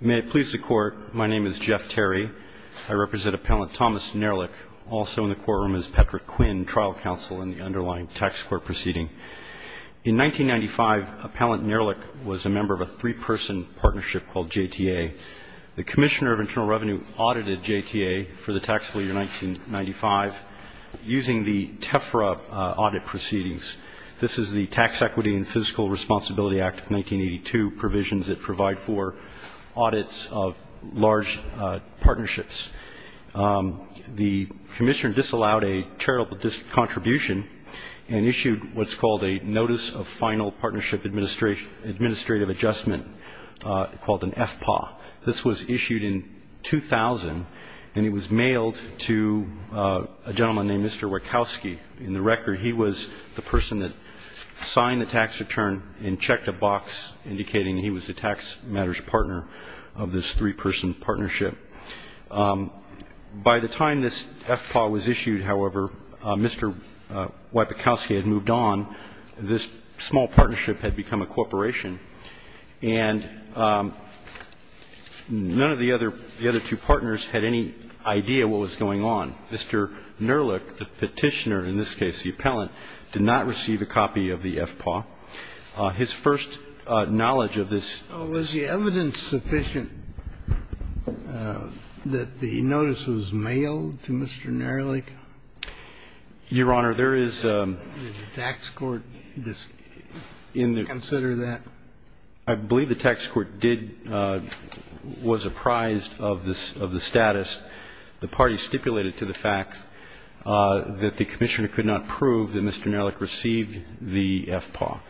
May it please the Court, my name is Jeff Terry. I represent Appellant Thomas Nehrlich. Also in the courtroom is Patrick Quinn, trial counsel in the underlying tax court proceeding. In 1995, Appellant Nehrlich was a member of a three-person partnership called JTA. The Commissioner of Internal Revenue audited JTA for the taxable year 1995 using the TEFRA audit proceedings. This is the Tax Equity and Fiscal Responsibility Act of 1982 provisions that provide for audits of large partnerships. The Commissioner disallowed a charitable contribution and issued what's called a Notice of Final Partnership Administrative Adjustment called an FPAW. This was issued in 2000, and it was mailed to a gentleman named Mr. Wieckowski. In the record, he was the person that signed the tax return and checked a box indicating he was the tax matters partner of this three-person partnership. By the time this FPAW was issued, however, Mr. Wieckowski had moved on. This small partnership had become a corporation. And none of the other two partners had any idea what was going on. Mr. Nehrlich, the Petitioner, in this case the Appellant, did not receive a copy of the FPAW. His first knowledge of this was the evidence sufficient that the notice was mailed to Mr. Nehrlich? Your Honor, there is a tax court. Just consider that. I believe the tax court was apprised of the status. The party stipulated to the facts that the Commissioner could not prove that Mr. Nehrlich received the FPAW.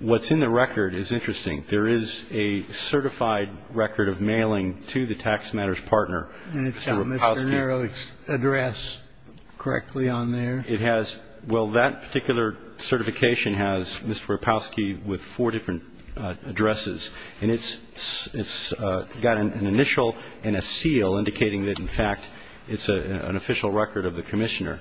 What's in the record is interesting. There is a certified record of mailing to the tax matters partner, Mr. Wieckowski. And it's Mr. Nehrlich's address correctly on there? It has ñ well, that particular certification has Mr. Wieckowski with four different addresses. And it's got an initial and a seal indicating that, in fact, it's an official record of the Commissioner.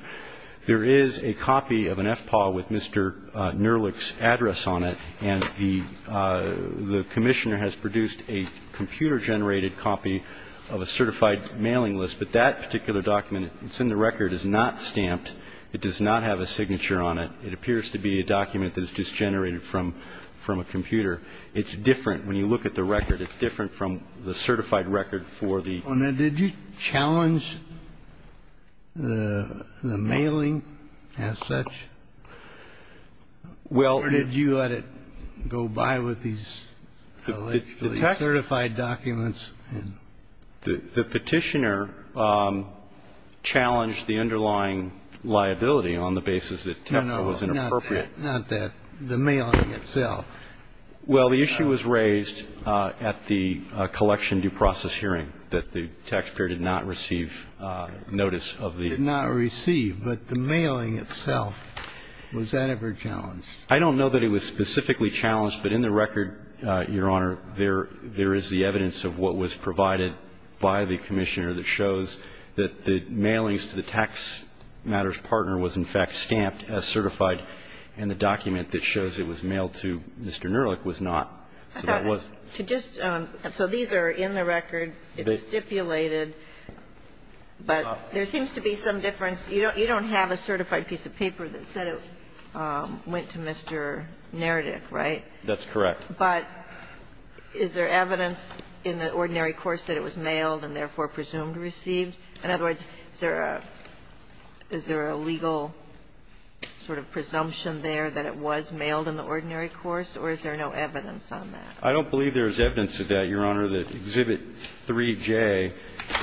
There is a copy of an FPAW with Mr. Nehrlich's address on it, and the Commissioner has produced a computer-generated copy of a certified mailing list. But that particular document that's in the record is not stamped. It does not have a signature on it. It appears to be a document that is just generated from a computer. It's different. When you look at the record, it's different from the certified record for the ñ Well, now, did you challenge the mailing as such? Well ñ Or did you let it go by with these electrically certified documents? The Petitioner challenged the underlying liability on the basis that Tefla was inappropriate. No, no, not that. The mailing itself. Well, the issue was raised at the collection due process hearing, that the taxpayer did not receive notice of the ñ Did not receive. But the mailing itself, was that ever challenged? I don't know that it was specifically challenged, but in the record, Your Honor, there is the evidence of what was provided by the Commissioner that shows that the mailings to the tax matters partner was, in fact, stamped as certified, and the document that shows it was mailed to Mr. Nerlich was not. So that was ñ To just ñ so these are in the record. It's stipulated. But there seems to be some difference. You don't have a certified piece of paper that said it went to Mr. Nerlich, right? That's correct. But is there evidence in the ordinary course that it was mailed and therefore presumed received? In other words, is there a ñ is there a legal sort of presumption there that it was mailed in the ordinary course, or is there no evidence on that? I don't believe there is evidence of that, Your Honor. Exhibit 3J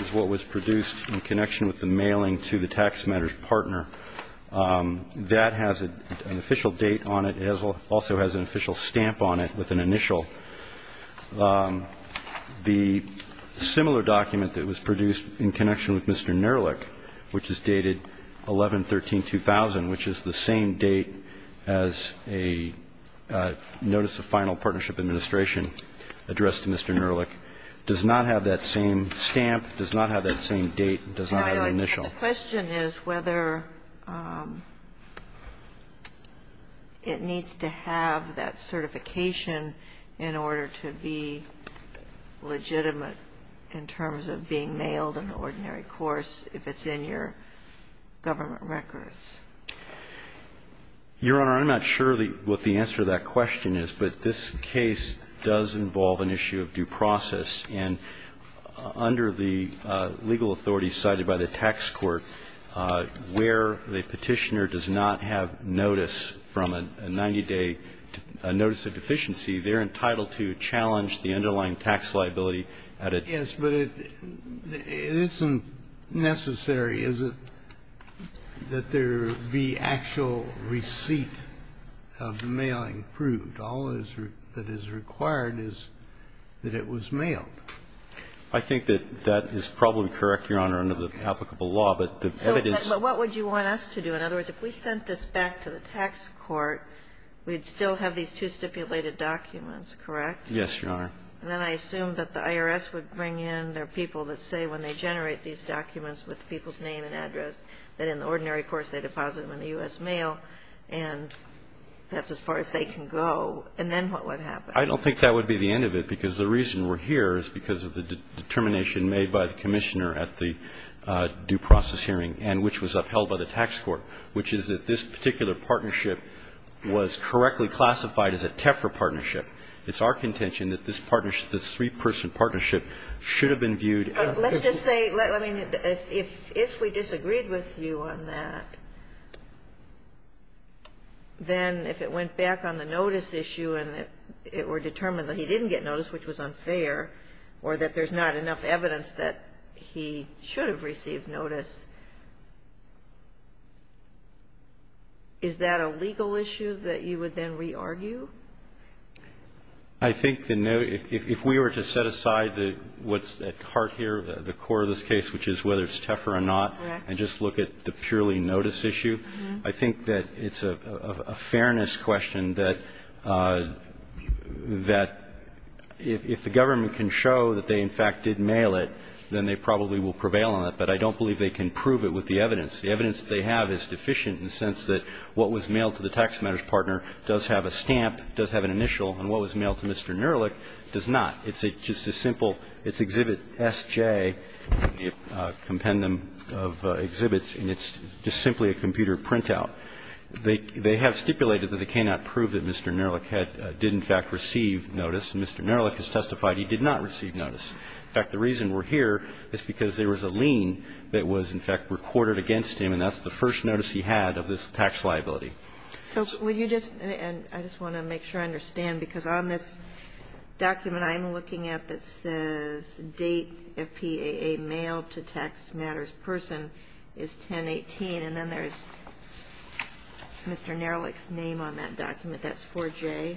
is what was produced in connection with the mailing to the tax matters partner. That has an official date on it. It also has an official stamp on it with an initial. The similar document that was produced in connection with Mr. Nerlich, which is dated 11-13-2000, which is the same date as a notice of final partnership administration addressed to Mr. Nerlich, does not have that same stamp, does not have that same date, does not have an initial. The question is whether it needs to have that certification in order to be legitimate in terms of being mailed in the ordinary course if it's in your government records. Your Honor, I'm not sure what the answer to that question is. But this case does involve an issue of due process. And under the legal authority cited by the tax court, where the Petitioner does not have notice from a 90-day notice of deficiency, they're entitled to challenge the underlying tax liability at a time. Yes, but it isn't necessary, is it, that there be actual receipt of the mailing All that is required is that it was mailed. I think that that is probably correct, Your Honor, under the applicable law. But the evidence So what would you want us to do? In other words, if we sent this back to the tax court, we'd still have these two stipulated documents, correct? Yes, Your Honor. Then I assume that the IRS would bring in their people that say when they generate these documents with the people's name and address, that in the ordinary course they deposit them in the U.S. mail. And that's as far as they can go. And then what would happen? I don't think that would be the end of it, because the reason we're here is because of the determination made by the Commissioner at the due process hearing and which was upheld by the tax court, which is that this particular partnership was correctly classified as a TEFRA partnership. It's our contention that this partnership, this three-person partnership, should have been viewed as Let's just say, I mean, if we disagreed with you on that, then if it went back on the notice issue and that it were determined that he didn't get notice, which was unfair, or that there's not enough evidence that he should have received notice, is that a legal issue that you would then re-argue? I think the note, if we were to set aside what's at heart here, the core of this case, which is whether it's TEFRA or not, and just look at the purely noticing issue, I think that it's a fairness question that, that if the government can show that they in fact did mail it, then they probably will prevail on it. But I don't believe they can prove it with the evidence. The evidence they have is deficient in the sense that what was mailed to the tax matters partner does have a stamp, does have an initial, and what was mailed to Mr. Nurlich does not. It's just a simple, it's Exhibit SJ, a compendum of exhibits, and it's just simply a computer printout. They have stipulated that they cannot prove that Mr. Nurlich had, did in fact receive notice, and Mr. Nurlich has testified he did not receive notice. In fact, the reason we're here is because there was a lien that was in fact recorded against him, and that's the first notice he had of this tax liability. So would you just, and I just want to make sure I understand, because on this document I'm looking at that says Date FPAA Mail to Tax Matters Person is 1018, and then there's Mr. Nurlich's name on that document. That's 4J.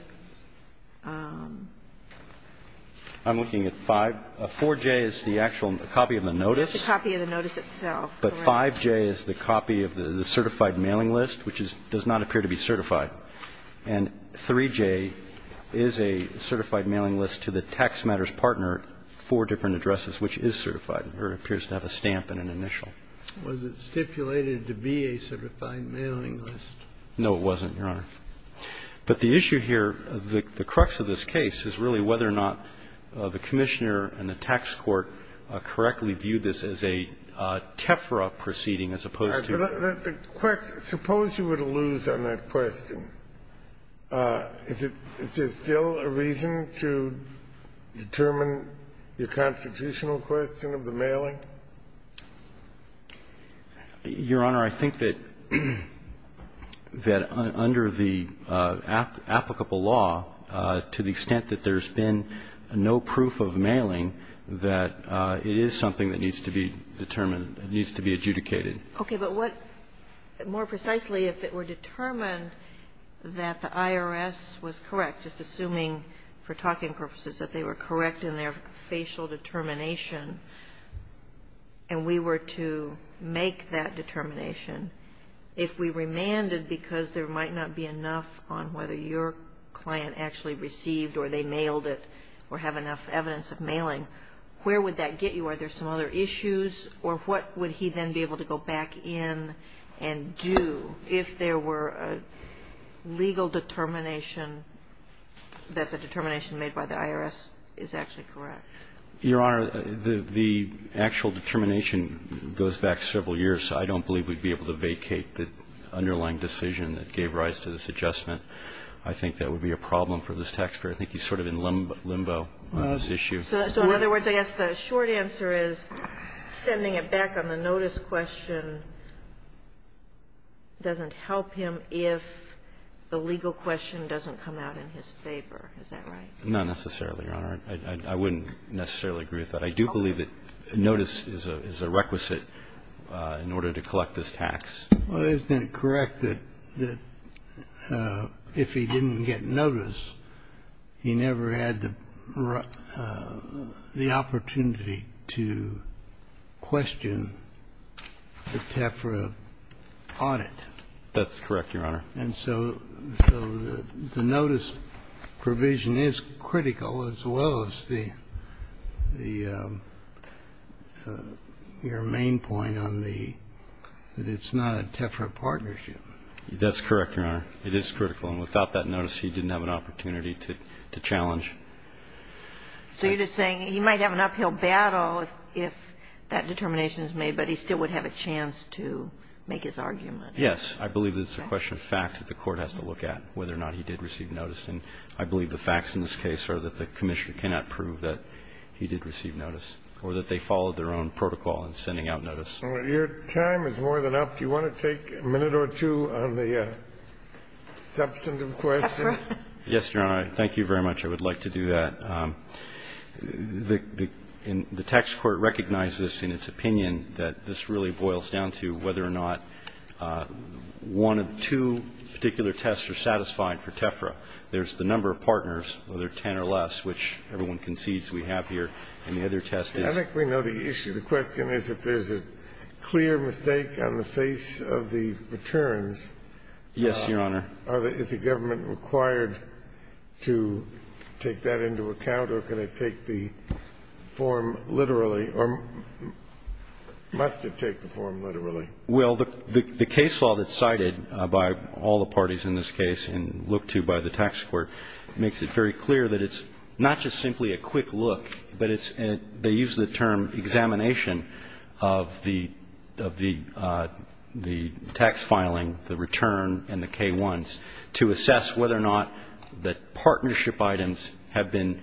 I'm looking at 5. 4J is the actual copy of the notice. It's a copy of the notice itself. But 5J is the copy of the certified mailing list, which does not appear to be certified. And 3J is a certified mailing list to the tax matters partner for different addresses, which is certified. It appears to have a stamp and an initial. Kennedy. Was it stipulated to be a certified mailing list? No, it wasn't, Your Honor. But the issue here, the crux of this case, is really whether or not the Commissioner and the tax court correctly viewed this as a TEFRA proceeding as opposed to the other. Suppose you were to lose on that question. Is there still a reason to determine the constitutional question of the mailing? Your Honor, I think that under the applicable law, to the extent that there's been no proof of mailing, that it is something that needs to be determined, needs to be adjudicated. Okay. But what, more precisely, if it were determined that the IRS was correct, just assuming for talking purposes that they were correct in their facial determination, and we were to make that determination, if we remanded because there might not be enough on whether your client actually received or they mailed it or have enough evidence of mailing, where would that get you? So you're saying that the IRS was wrong to make that determination? Or were there some other issues? Or what would he then be able to go back in and do if there were a legal determination that the determination made by the IRS is actually correct? Your Honor, the actual determination goes back several years, so I don't believe we'd be able to vacate the underlying decision that gave rise to this adjustment. I think that would be a problem for this taxpayer. I think he's sort of in limbo on this issue. So in other words, I guess the short answer is sending it back on the notice question doesn't help him if the legal question doesn't come out in his favor. Is that right? Not necessarily, Your Honor. I wouldn't necessarily agree with that. I do believe that notice is a requisite in order to collect this tax. Well, isn't it correct that if he didn't get notice, he never had the opportunity to question the TEFRA audit? That's correct, Your Honor. And so the notice provision is critical, as well as the – your main point on the That it's not a TEFRA partnership. That's correct, Your Honor. It is critical. And without that notice, he didn't have an opportunity to challenge. So you're just saying he might have an uphill battle if that determination is made, but he still would have a chance to make his argument? Yes. I believe that it's a question of fact that the Court has to look at, whether or not he did receive notice. And I believe the facts in this case are that the Commissioner cannot prove that he did receive notice or that they followed their own protocol in sending out notice. Your time is more than up. Do you want to take a minute or two on the substantive question? Yes, Your Honor. Thank you very much. I would like to do that. The tax court recognizes in its opinion that this really boils down to whether or not one of two particular tests are satisfying for TEFRA. There's the number of partners, whether 10 or less, which everyone concedes we have here. And the other test is – If there's a clear mistake on the face of the returns – Yes, Your Honor. Is the government required to take that into account, or can it take the form literally or must it take the form literally? Well, the case law that's cited by all the parties in this case and looked to by the tax court makes it very clear that it's not just simply a quick look, but it's they use the term examination of the tax filing, the return, and the K-1s to assess whether or not the partnership items have been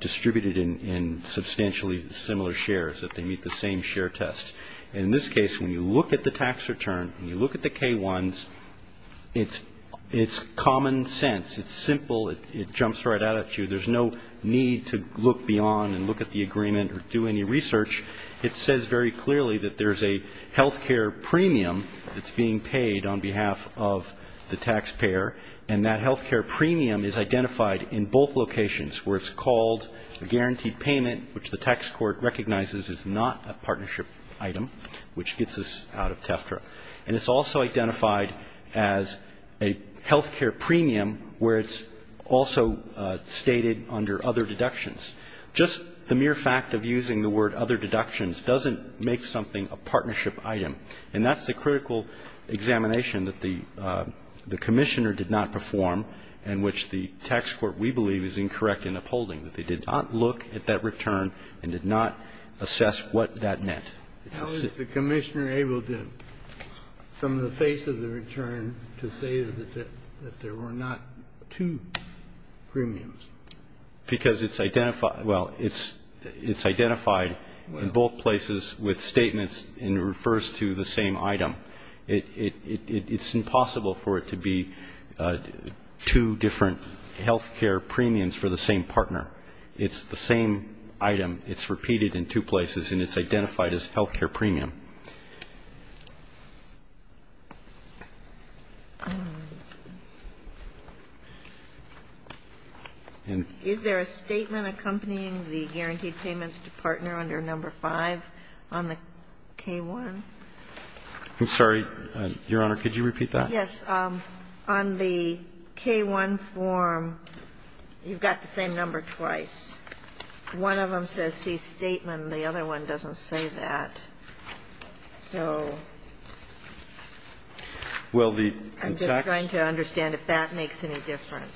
distributed in substantially similar shares, that they meet the same share test. In this case, when you look at the tax return, when you look at the K-1s, it's common sense. It's simple. It jumps right out at you. There's no need to look beyond and look at the agreement or do any research. It says very clearly that there's a health care premium that's being paid on behalf of the taxpayer, and that health care premium is identified in both locations, where it's called a guaranteed payment, which the tax court recognizes is not a partnership item, which gets us out of TEFRA. And it's also identified as a health care premium where it's also stated under other deductions. Just the mere fact of using the word other deductions doesn't make something a partnership item, and that's the critical examination that the commissioner did not perform and which the tax court, we believe, is incorrect in upholding, that they did not look at that return and did not assess what that meant. How is the commissioner able to, from the face of the return, to say that there were not two premiums? Because it's identified in both places with statements and it refers to the same item. It's impossible for it to be two different health care premiums for the same partner. It's the same item. It's repeated in two places and it's identified as health care premium. Is there a statement accompanying the guaranteed payments to partner under number 5 on the K-1? I'm sorry, Your Honor. Could you repeat that? Yes. On the K-1 form, you've got the same number twice. One of them says C statement and the other one doesn't say that. So I'm just trying to understand if that makes any difference.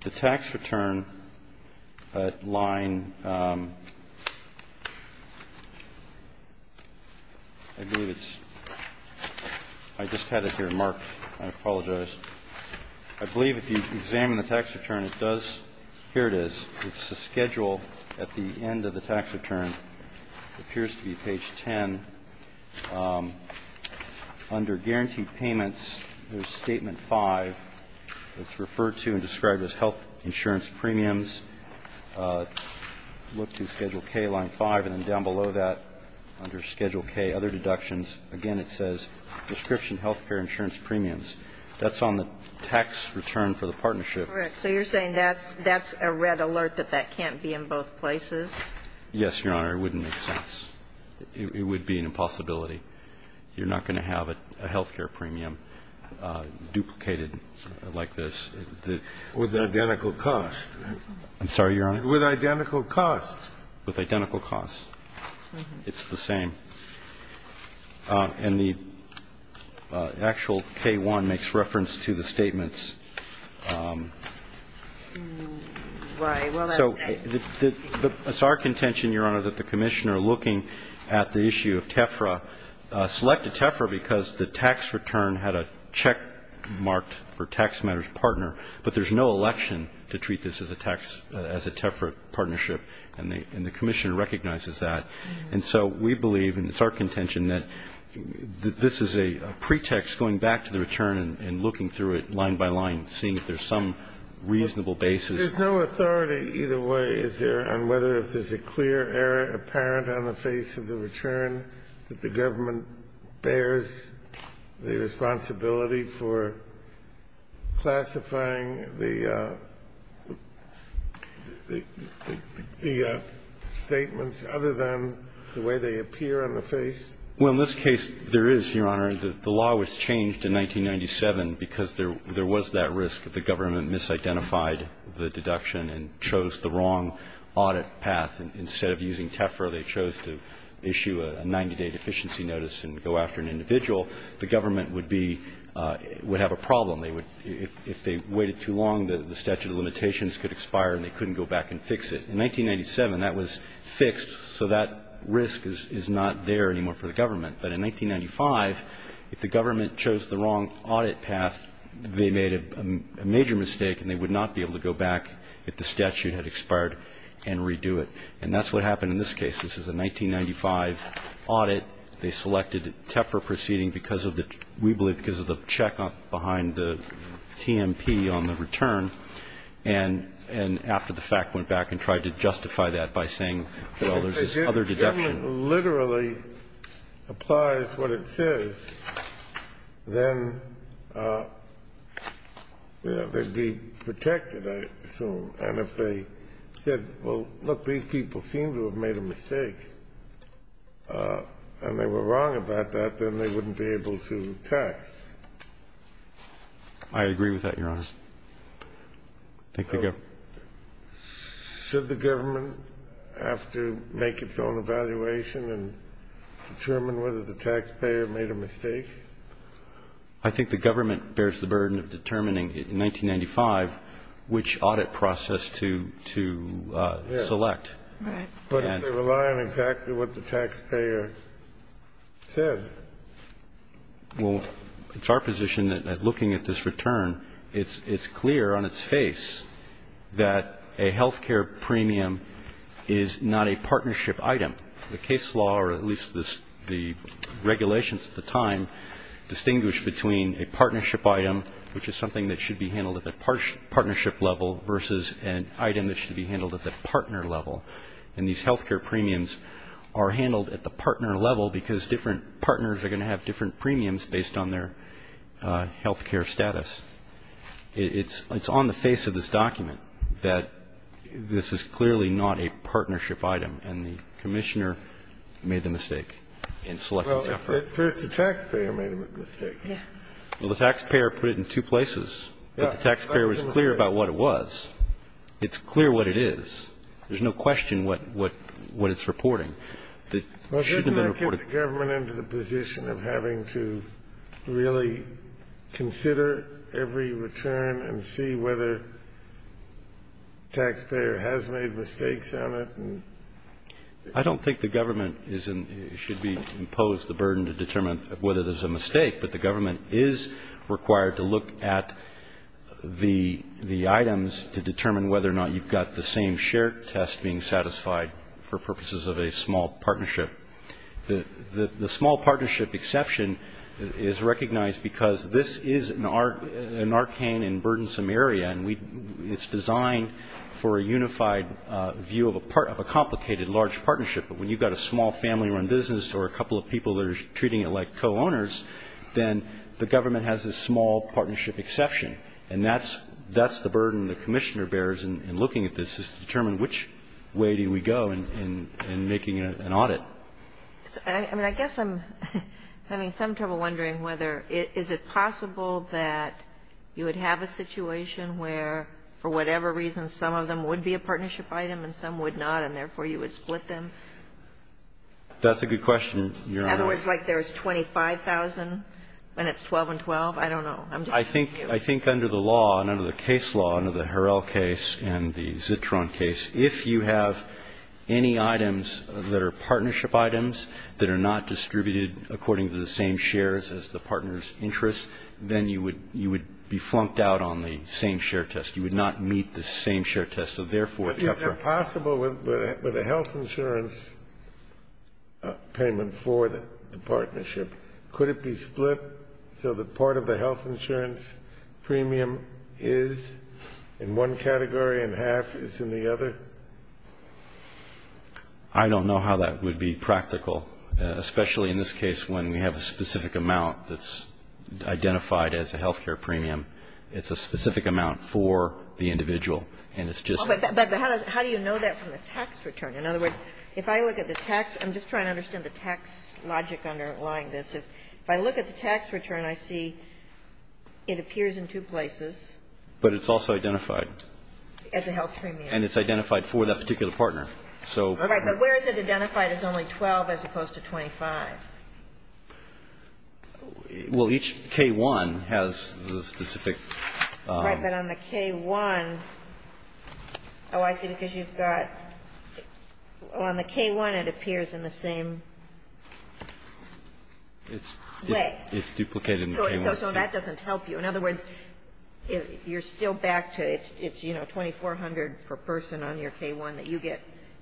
The tax return line, I believe it's ñ I just had it here marked. I apologize. I believe if you examine the tax return, it does ñ here it is. It's the schedule at the end of the tax return. It appears to be page 10. Under guaranteed payments, there's statement 5. It's referred to and described as health insurance premiums. Look to Schedule K, line 5, and then down below that under Schedule K, other deductions, again it says prescription health care insurance premiums. That's on the tax return for the partnership. Correct. So you're saying that's a red alert that that can't be in both places? Yes, Your Honor. It wouldn't make sense. It would be an impossibility. You're not going to have a health care premium duplicated like this. With identical cost. I'm sorry, Your Honor? With identical cost. With identical cost. It's the same. And the actual K-1 makes reference to the statements. Right. So it's our contention, Your Honor, that the Commissioner looking at the issue of TEFRA, selected TEFRA because the tax return had a check marked for tax matters partner, but there's no election to treat this as a TEFRA partnership, and the Commissioner recognizes that. And so we believe, and it's our contention, that this is a pretext going back to the return and looking through it line by line, seeing if there's some reasonable basis. There's no authority either way, is there, on whether if there's a clear error apparent on the face of the return that the government bears the responsibility for classifying the statements other than the way they appear on the face? Well, in this case, there is, Your Honor. The law was changed in 1997 because there was that risk that the government misidentified the deduction and chose the wrong audit path. Instead of using TEFRA, they chose to issue a 90-day deficiency notice and go after an individual. The government would be – would have a problem. If they waited too long, the statute of limitations could expire and they couldn't go back and fix it. In 1997, that was fixed, so that risk is not there anymore for the government. But in 1995, if the government chose the wrong audit path, they made a major mistake and they would not be able to go back if the statute had expired and redo it. And that's what happened in this case. This is a 1995 audit. They selected TEFRA proceeding because of the – we believe because of the checkup behind the TMP on the return, and after the fact went back and tried to justify that by saying, well, there's this other deduction. If the government literally applies what it says, then they'd be protected, I assume. And if they said, well, look, these people seem to have made a mistake, and they were wrong about that, then they wouldn't be able to tax. I agree with that, Your Honor. Roberts. Should the government have to make its own evaluation and determine whether the taxpayer made a mistake? I think the government bears the burden of determining in 1995 which audit process to select. Right. But if they rely on exactly what the taxpayer said. Well, it's our position that looking at this return, it's clear on its face that a health care premium is not a partnership item. The case law, or at least the regulations at the time, distinguish between a partnership item, which is something that should be handled at the partnership level, versus an item that should be handled at the partner level. And these health care premiums are handled at the partner level because different partners are going to have different premiums based on their health care status. It's on the face of this document that this is clearly not a partnership item, and the Commissioner made the mistake in selecting the effort. Well, at first the taxpayer made a mistake. Yeah. Well, the taxpayer put it in two places. Yeah. But the taxpayer was clear about what it was. It's clear what it is. There's no question what it's reporting. Well, doesn't that get the government into the position of having to really consider every return and see whether the taxpayer has made mistakes on it? I don't think the government should be imposed the burden to determine whether there's a mistake. But the government is required to look at the items to determine whether or not you've got the same share test being satisfied for purposes of a small partnership. The small partnership exception is recognized because this is an arcane and burdensome area, and it's designed for a unified view of a complicated, large partnership. But when you've got a small family-run business or a couple of people that are treating it like co-owners, then the government has this small partnership exception, and that's the burden the commissioner bears in looking at this, is to determine which way do we go in making an audit. I mean, I guess I'm having some trouble wondering whether is it possible that you would have a situation where, for whatever reason, some of them would be a partnership item and some would not, and therefore you would split them? That's a good question, Your Honor. In other words, like there's 25,000 and it's 12 and 12? I don't know. I think under the law and under the case law, under the Harrell case and the Zitron case, if you have any items that are partnership items that are not distributed according to the same shares as the partner's interest, then you would be flunked out on the same share test. You would not meet the same share test. So, therefore, if you're a partnership item. But is that possible with a health insurance payment for the partnership? Could it be split so that part of the health insurance premium is in one category and half is in the other? I don't know how that would be practical, especially in this case when we have a specific amount that's identified as a health care premium. It's a specific amount for the individual, and it's just that. But how do you know that from the tax return? In other words, if I look at the tax, I'm just trying to understand the tax logic underlying this. If I look at the tax return, I see it appears in two places. But it's also identified. As a health premium. And it's identified for that particular partner. All right. But where is it identified as only 12 as opposed to 25? Well, each K-1 has the specific. Right. But on the K-1, oh, I see. Because you've got on the K-1 it appears in the same way. It's duplicated in the K-1. So that doesn't help you. In other words, you're still back to it's, you know, 2,400 per person on your K-1 that you get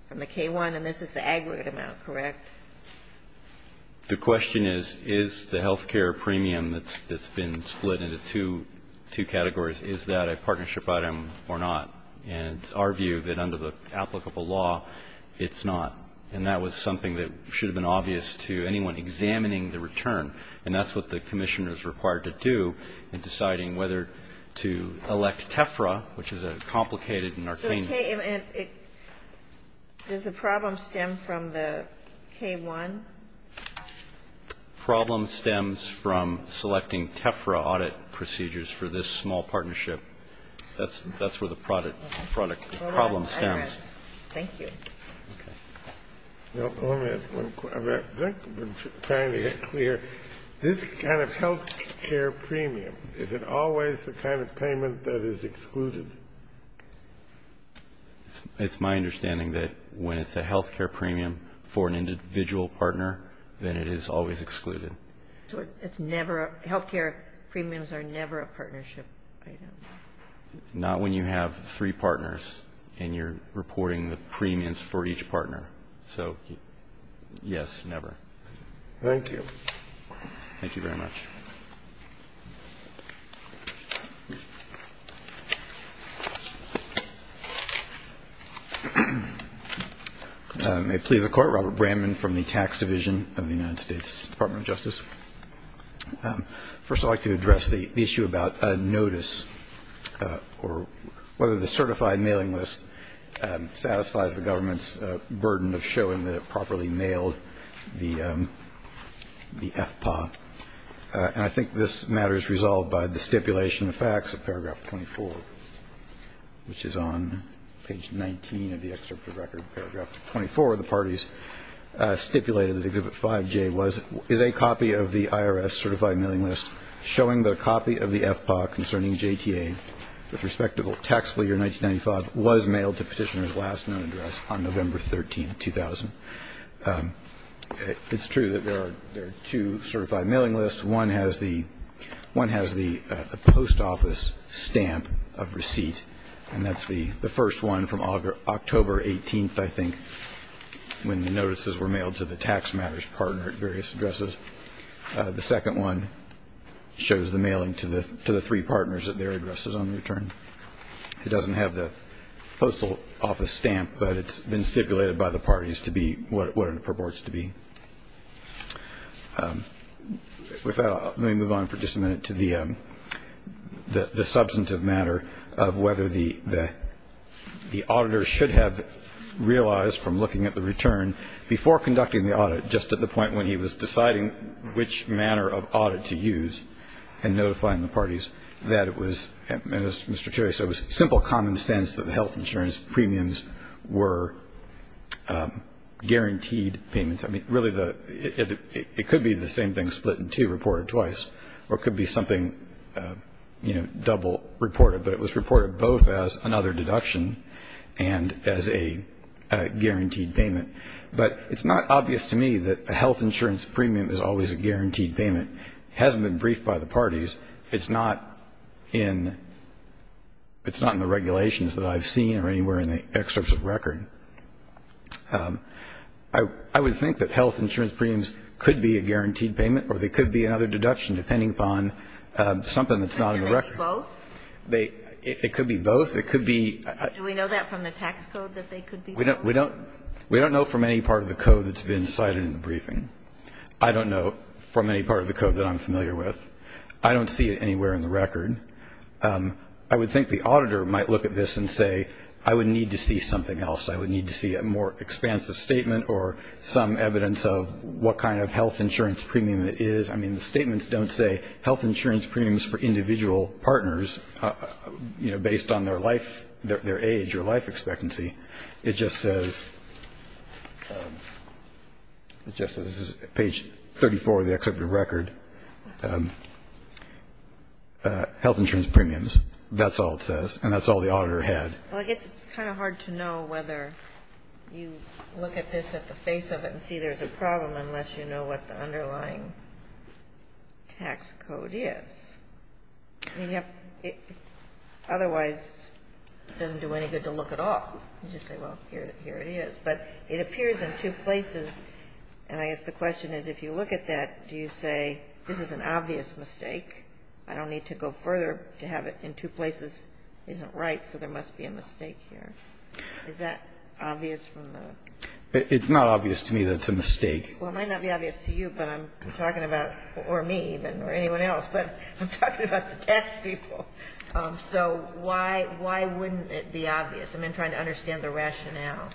from the K-1, and this is the aggregate amount, correct? The question is, is the health care premium that's been split into two categories, is that a partnership item or not? And it's our view that under the applicable law, it's not. And that was something that should have been obvious to anyone examining the return. And that's what the Commissioner is required to do in deciding whether to elect TEFRA, which is a complicated and arcane. Does the problem stem from the K-1? The problem stems from selecting TEFRA audit procedures for this small partnership. That's where the problem stems. Thank you. Let me ask one question. I think we're trying to get clear. This kind of health care premium, is it always the kind of payment that is excluded? It's my understanding that when it's a health care premium for an individual partner, then it is always excluded. It's never a health care premiums are never a partnership item. Not when you have three partners and you're reporting the premiums for each partner. So, yes, never. Thank you. Thank you very much. May it please the Court, Robert Bramman from the Tax Division of the United States Department of Justice. First, I'd like to address the issue about a notice or whether the certified mailing list satisfies the government's burden of showing that it properly mailed the FPA. And I think this matter is resolved by the stipulation of facts of paragraph 24, which is on page 19 of the IRS certified mailing list, showing that a copy of the FPA concerning JTA with respect to taxable year 1995 was mailed to petitioner's last known address on November 13, 2000. It's true that there are two certified mailing lists. One has the post office stamp of receipt, and that's the first one from October 18th, I think, when the notices were mailed to the tax matters partner at various addresses. The second one shows the mailing to the three partners at their addresses on return. It doesn't have the postal office stamp, but it's been stipulated by the parties to be what it purports to be. With that, let me move on for just a minute to the substantive matter of whether the auditor should have realized from looking at the return before conducting the audit, just at the point when he was deciding which manner of audit to use and notifying the parties that it was, as Mr. Cherry said, simple common sense that the health insurance premiums were guaranteed payments. I mean, really, it could be the same thing split in two reported twice, or it could be something, you know, double reported. But it was reported both as another deduction and as a guaranteed payment. But it's not obvious to me that a health insurance premium is always a guaranteed payment. It hasn't been briefed by the parties. It's not in the regulations that I've seen or anywhere in the excerpts of record. I would think that health insurance premiums could be a guaranteed payment, or they could be another deduction depending upon something that's not in the record. It could be both? It could be both. It could be. Do we know that from the tax code that they could be both? We don't know from any part of the code that's been cited in the briefing. I don't know from any part of the code that I'm familiar with. I don't see it anywhere in the record. I would think the auditor might look at this and say, I would need to see something else. I would need to see a more expansive statement or some evidence of what kind of health insurance premium it is. I mean, the statements don't say health insurance premiums for individual partners, you know, based on their life, their age or life expectancy. It just says, just as page 34 of the excerpt of record, health insurance premiums. That's all it says. And that's all the auditor had. Well, I guess it's kind of hard to know whether you look at this at the face of it unless you know what the underlying tax code is. I mean, otherwise, it doesn't do any good to look at all. You just say, well, here it is. But it appears in two places, and I guess the question is if you look at that, do you say this is an obvious mistake? I don't need to go further to have it in two places. It isn't right, so there must be a mistake here. Is that obvious from the? It's not obvious to me that it's a mistake. Well, it might not be obvious to you, but I'm talking about, or me even, or anyone else, but I'm talking about the tax people. So why wouldn't it be obvious? I'm trying to understand the rationale.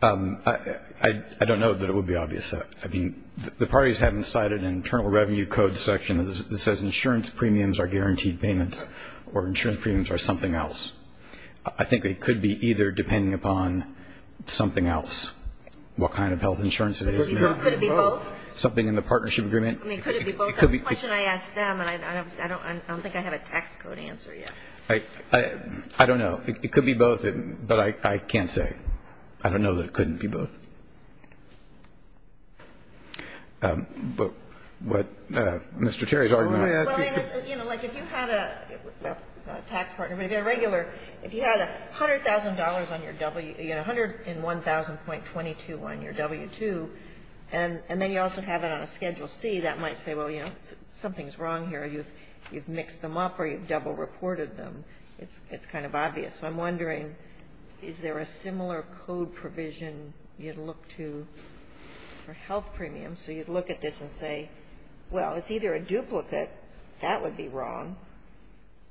I don't know that it would be obvious. I mean, the parties haven't cited an Internal Revenue Code section that says insurance premiums are guaranteed payments or insurance premiums are something else. I think it could be either, depending upon something else, what kind of health insurance it is now. Could it be both? Something in the partnership agreement. I mean, could it be both? That's the question I asked them, and I don't think I have a tax code answer yet. I don't know. It could be both, but I can't say. I don't know that it couldn't be both. But what Mr. Terry's argument. Well, you know, like if you had a tax partner, maybe a regular, if you had $100,000 on your W, you had $101,000.22 on your W-2, and then you also have it on a Schedule C, that might say, well, you know, something's wrong here. You've mixed them up or you've double reported them. It's kind of obvious. So I'm wondering, is there a similar code provision you'd look to for health premiums? So you'd look at this and say, well, it's either a duplicate, that would be wrong,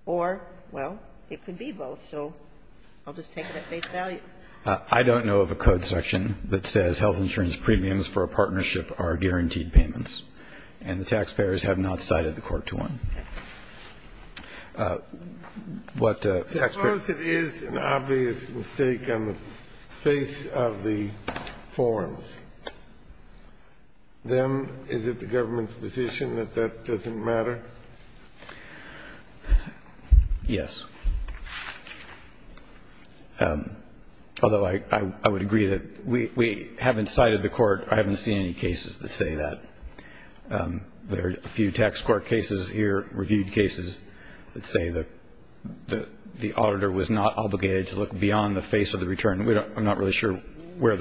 or, well, it could be both. So I'll just take it at face value. I don't know of a code section that says health insurance premiums for a partnership are guaranteed payments. And the taxpayers have not cited the Court to one. As far as it is an obvious mistake on the face of the forms. Then is it the government's position that that doesn't matter? Yes. Although I would agree that we haven't cited the Court. I haven't seen any cases that say that. There are a few tax court cases here, reviewed cases, that say that the auditor was not obligated to look beyond the face of the return. I'm not really sure where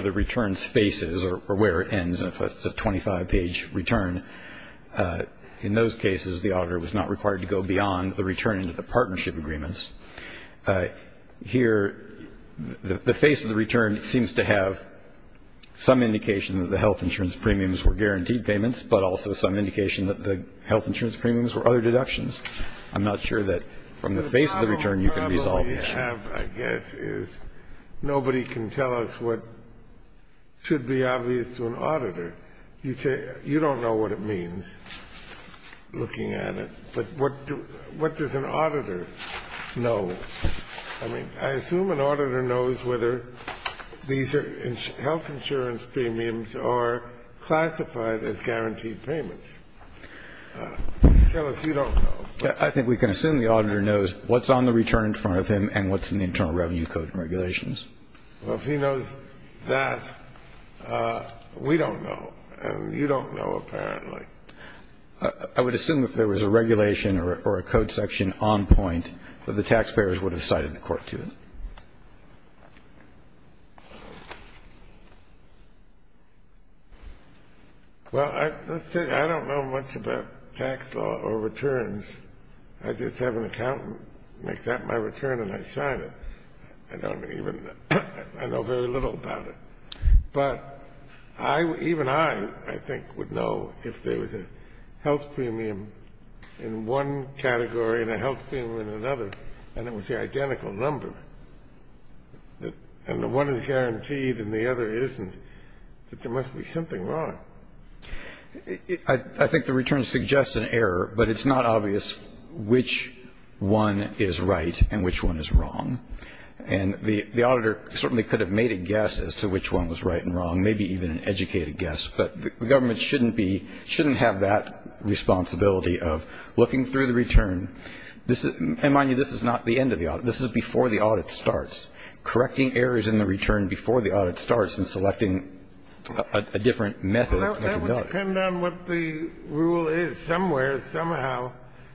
the return faces or where it ends, if it's a 25-page return. In those cases, the auditor was not required to go beyond the return into the partnership agreements. Here, the face of the return seems to have some indication that the health insurance premiums were guaranteed payments, but also some indication that the health insurance premiums were other deductions. I'm not sure that from the face of the return you can resolve that. What we have, I guess, is nobody can tell us what should be obvious to an auditor. You don't know what it means, looking at it. But what does an auditor know? I mean, I assume an auditor knows whether these health insurance premiums are classified as guaranteed payments. Tell us. You don't know. I think we can assume the auditor knows what's on the return in front of him and what's in the Internal Revenue Code and regulations. Well, if he knows that, we don't know. And you don't know, apparently. I would assume if there was a regulation or a code section on point, that the taxpayers would have cited the court to it. Well, let's take it. I don't know much about tax law or returns. I just have an accountant make that my return and I sign it. I don't even know. I know very little about it. But even I, I think, would know if there was a health premium in one category and a health insurance premium in the other. I think it's a very simple number. And the one is guaranteed and the other isn't, that there must be something wrong. I think the return suggests an error, but it's not obvious which one is right and which one is wrong. And the auditor certainly could have made a guess as to which one was right and wrong, maybe even an educated guess. But the government shouldn't be, shouldn't have that responsibility of looking through the return. And mind you, this is not the end of the audit. This is before the audit starts. Correcting errors in the return before the audit starts and selecting a different method. That would depend on what the rule is. Somewhere, somehow,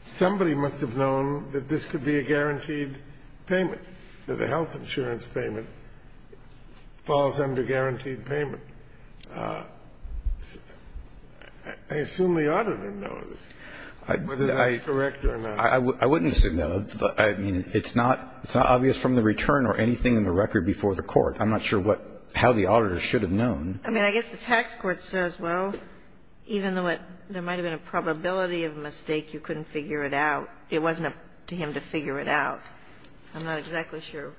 somebody must have known that this could be a guaranteed payment, that a health insurance payment falls under guaranteed payment. I assume the auditor knows whether that's correct or not. I wouldn't assume, no. I mean, it's not obvious from the return or anything in the record before the court. I'm not sure what, how the auditor should have known. I mean, I guess the tax court says, well, even though there might have been a probability of a mistake, you couldn't figure it out. It wasn't up to him to figure it out. I'm not exactly sure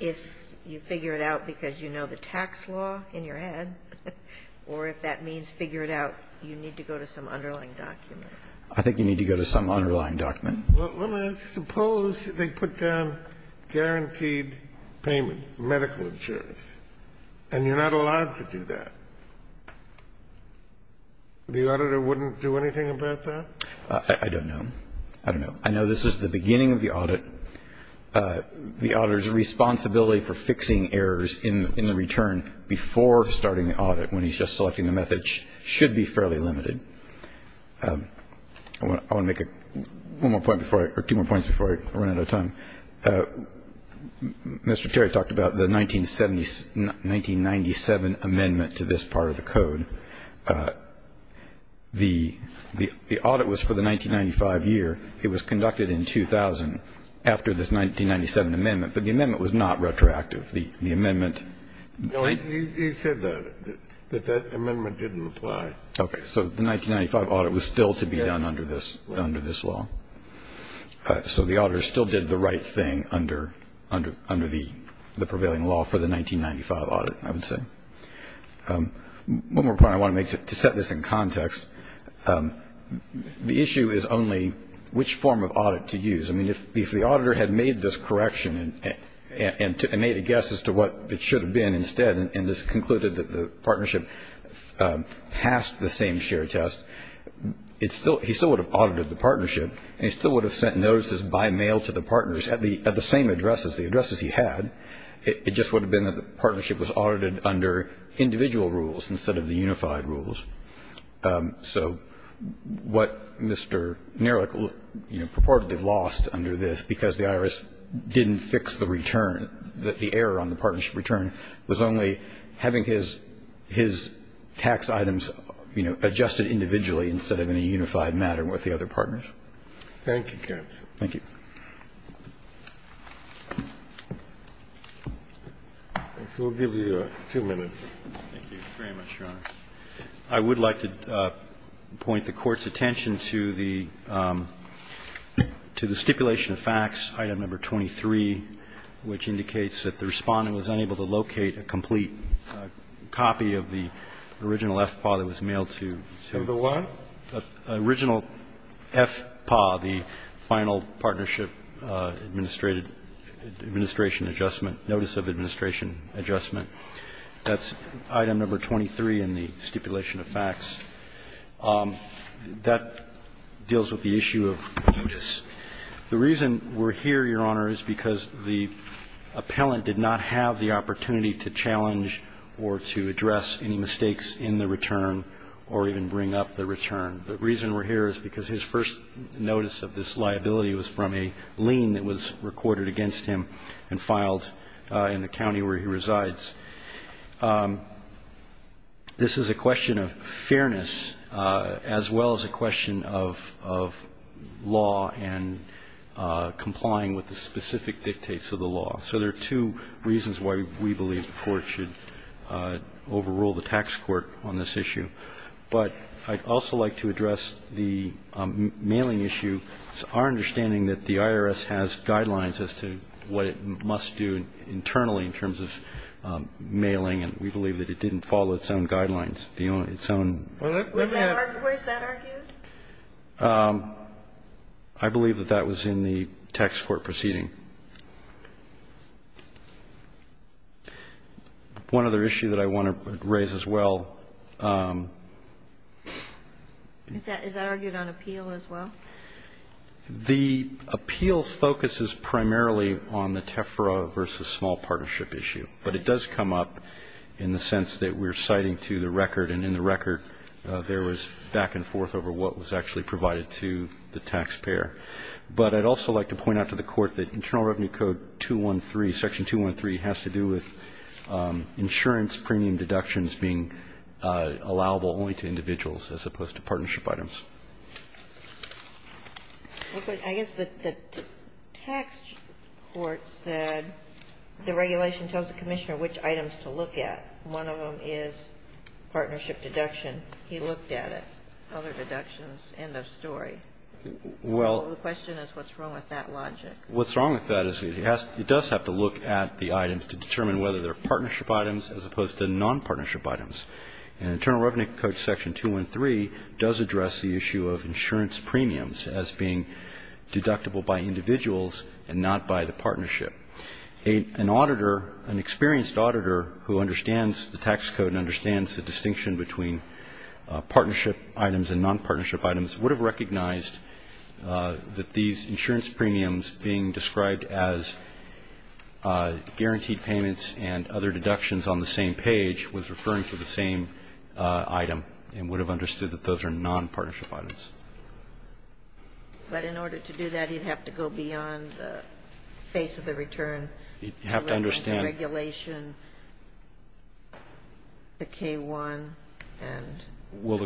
if you figure it out because you know the tax law in your head or if that means figure it out, you need to go to some underlying document. I think you need to go to some underlying document. Well, suppose they put down guaranteed payment, medical insurance, and you're not allowed to do that. The auditor wouldn't do anything about that? I don't know. I know this is the beginning of the audit. The auditor's responsibility for fixing errors in the return before starting the audit, when he's just selecting the methods, should be fairly limited. I want to make one more point before I, or two more points before I run out of time. Mr. Terry talked about the 1997 amendment to this part of the code. The audit was for the 1995 year. It was conducted in 2000 after this 1997 amendment. But the amendment was not retroactive. The amendment. He said that, that that amendment didn't apply. Okay. So the 1995 audit was still to be done under this law. So the auditor still did the right thing under the prevailing law for the 1995 audit, I would say. One more point I want to make to set this in context. The issue is only which form of audit to use. I mean, if the auditor had made this correction and made a guess as to what it should have been instead and just concluded that the partnership passed the same share test, he still would have audited the partnership and he still would have sent notices by mail to the partners at the same addresses, the addresses he had. It just would have been that the partnership was audited under individual rules instead of the unified rules. So what Mr. Nerlich, you know, purportedly lost under this, because the IRS didn't fix the return, the error on the partnership return, was only having his tax items, you know, adjusted individually instead of in a unified manner with the other partners. Thank you, counsel. Thank you. I guess we'll give you two minutes. Thank you very much, Your Honor. I would like to point the Court's attention to the stipulation of facts, item number 23, which indicates that the Respondent was unable to locate a complete copy of the original FPAW that was mailed to the one? The original FPAW, the Final Partnership Administration Adjustment, Notice of Administration Adjustment. That's item number 23 in the stipulation of facts. That deals with the issue of mutus. The reason we're here, Your Honor, is because the appellant did not have the opportunity to challenge or to address any mistakes in the return or even bring up the return. The reason we're here is because his first notice of this liability was from a lien that was recorded against him and filed in the county where he resides. This is a question of fairness as well as a question of law and complying with the specific dictates of the law. So there are two reasons why we believe the Court should overrule the tax court on this issue. But I'd also like to address the mailing issue. It's our understanding that the IRS has guidelines as to what it must do internally in terms of mailing, and we believe that it didn't follow its own guidelines, its own. Where's that argued? I believe that that was in the tax court proceeding. One other issue that I want to raise as well. Is that argued on appeal as well? The appeal focuses primarily on the TEFRA versus small partnership issue. But it does come up in the sense that we're citing to the record, and in the record there was back and forth over what was actually provided to the taxpayer. But I'd also like to point out to the Court that Internal Revenue Code 213, Section 213, has to do with insurance premium deductions being allowable only to individuals as opposed to partnership items. I guess the tax court said the regulation tells the Commissioner which items to look at. One of them is partnership deduction. He looked at it. Other deductions, end of story. Well. The question is what's wrong with that logic? What's wrong with that is it does have to look at the items to determine whether they're partnership items as opposed to nonpartnership items. And Internal Revenue Code Section 213 does address the issue of insurance premiums as being deductible by individuals and not by the partnership. An auditor, an experienced auditor who understands the tax code and understands the distinction between partnership items and nonpartnership items would have recognized that these insurance premiums being described as guaranteed payments and other deductions on the same page was referring to the same item and would have understood that those are nonpartnership items. But in order to do that, you'd have to go beyond the face of the return. You'd have to understand. The regulation, the K-1 and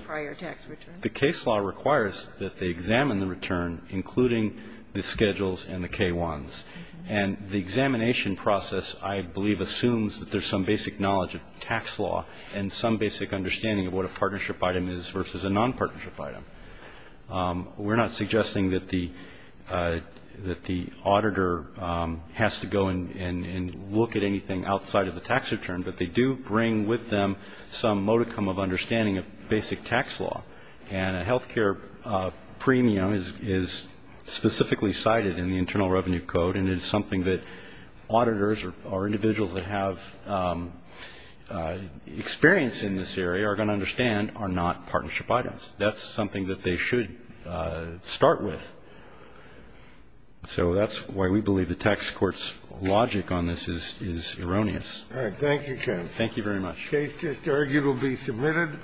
prior tax returns. The case law requires that they examine the return, including the schedules and the K-1s. And the examination process, I believe, assumes that there's some basic knowledge of tax law and some basic understanding of what a partnership item is versus a nonpartnership We're not suggesting that the auditor has to go and look at anything outside of the tax return, but they do bring with them some modicum of understanding of basic tax law. And a health care premium is specifically cited in the Internal Revenue Code and is something that auditors or individuals that have experience in this area are going to understand are not partnership items. That's something that they should start with. So that's why we believe the tax court's logic on this is erroneous. Thank you, counsel. Thank you very much. The case just argued will be submitted.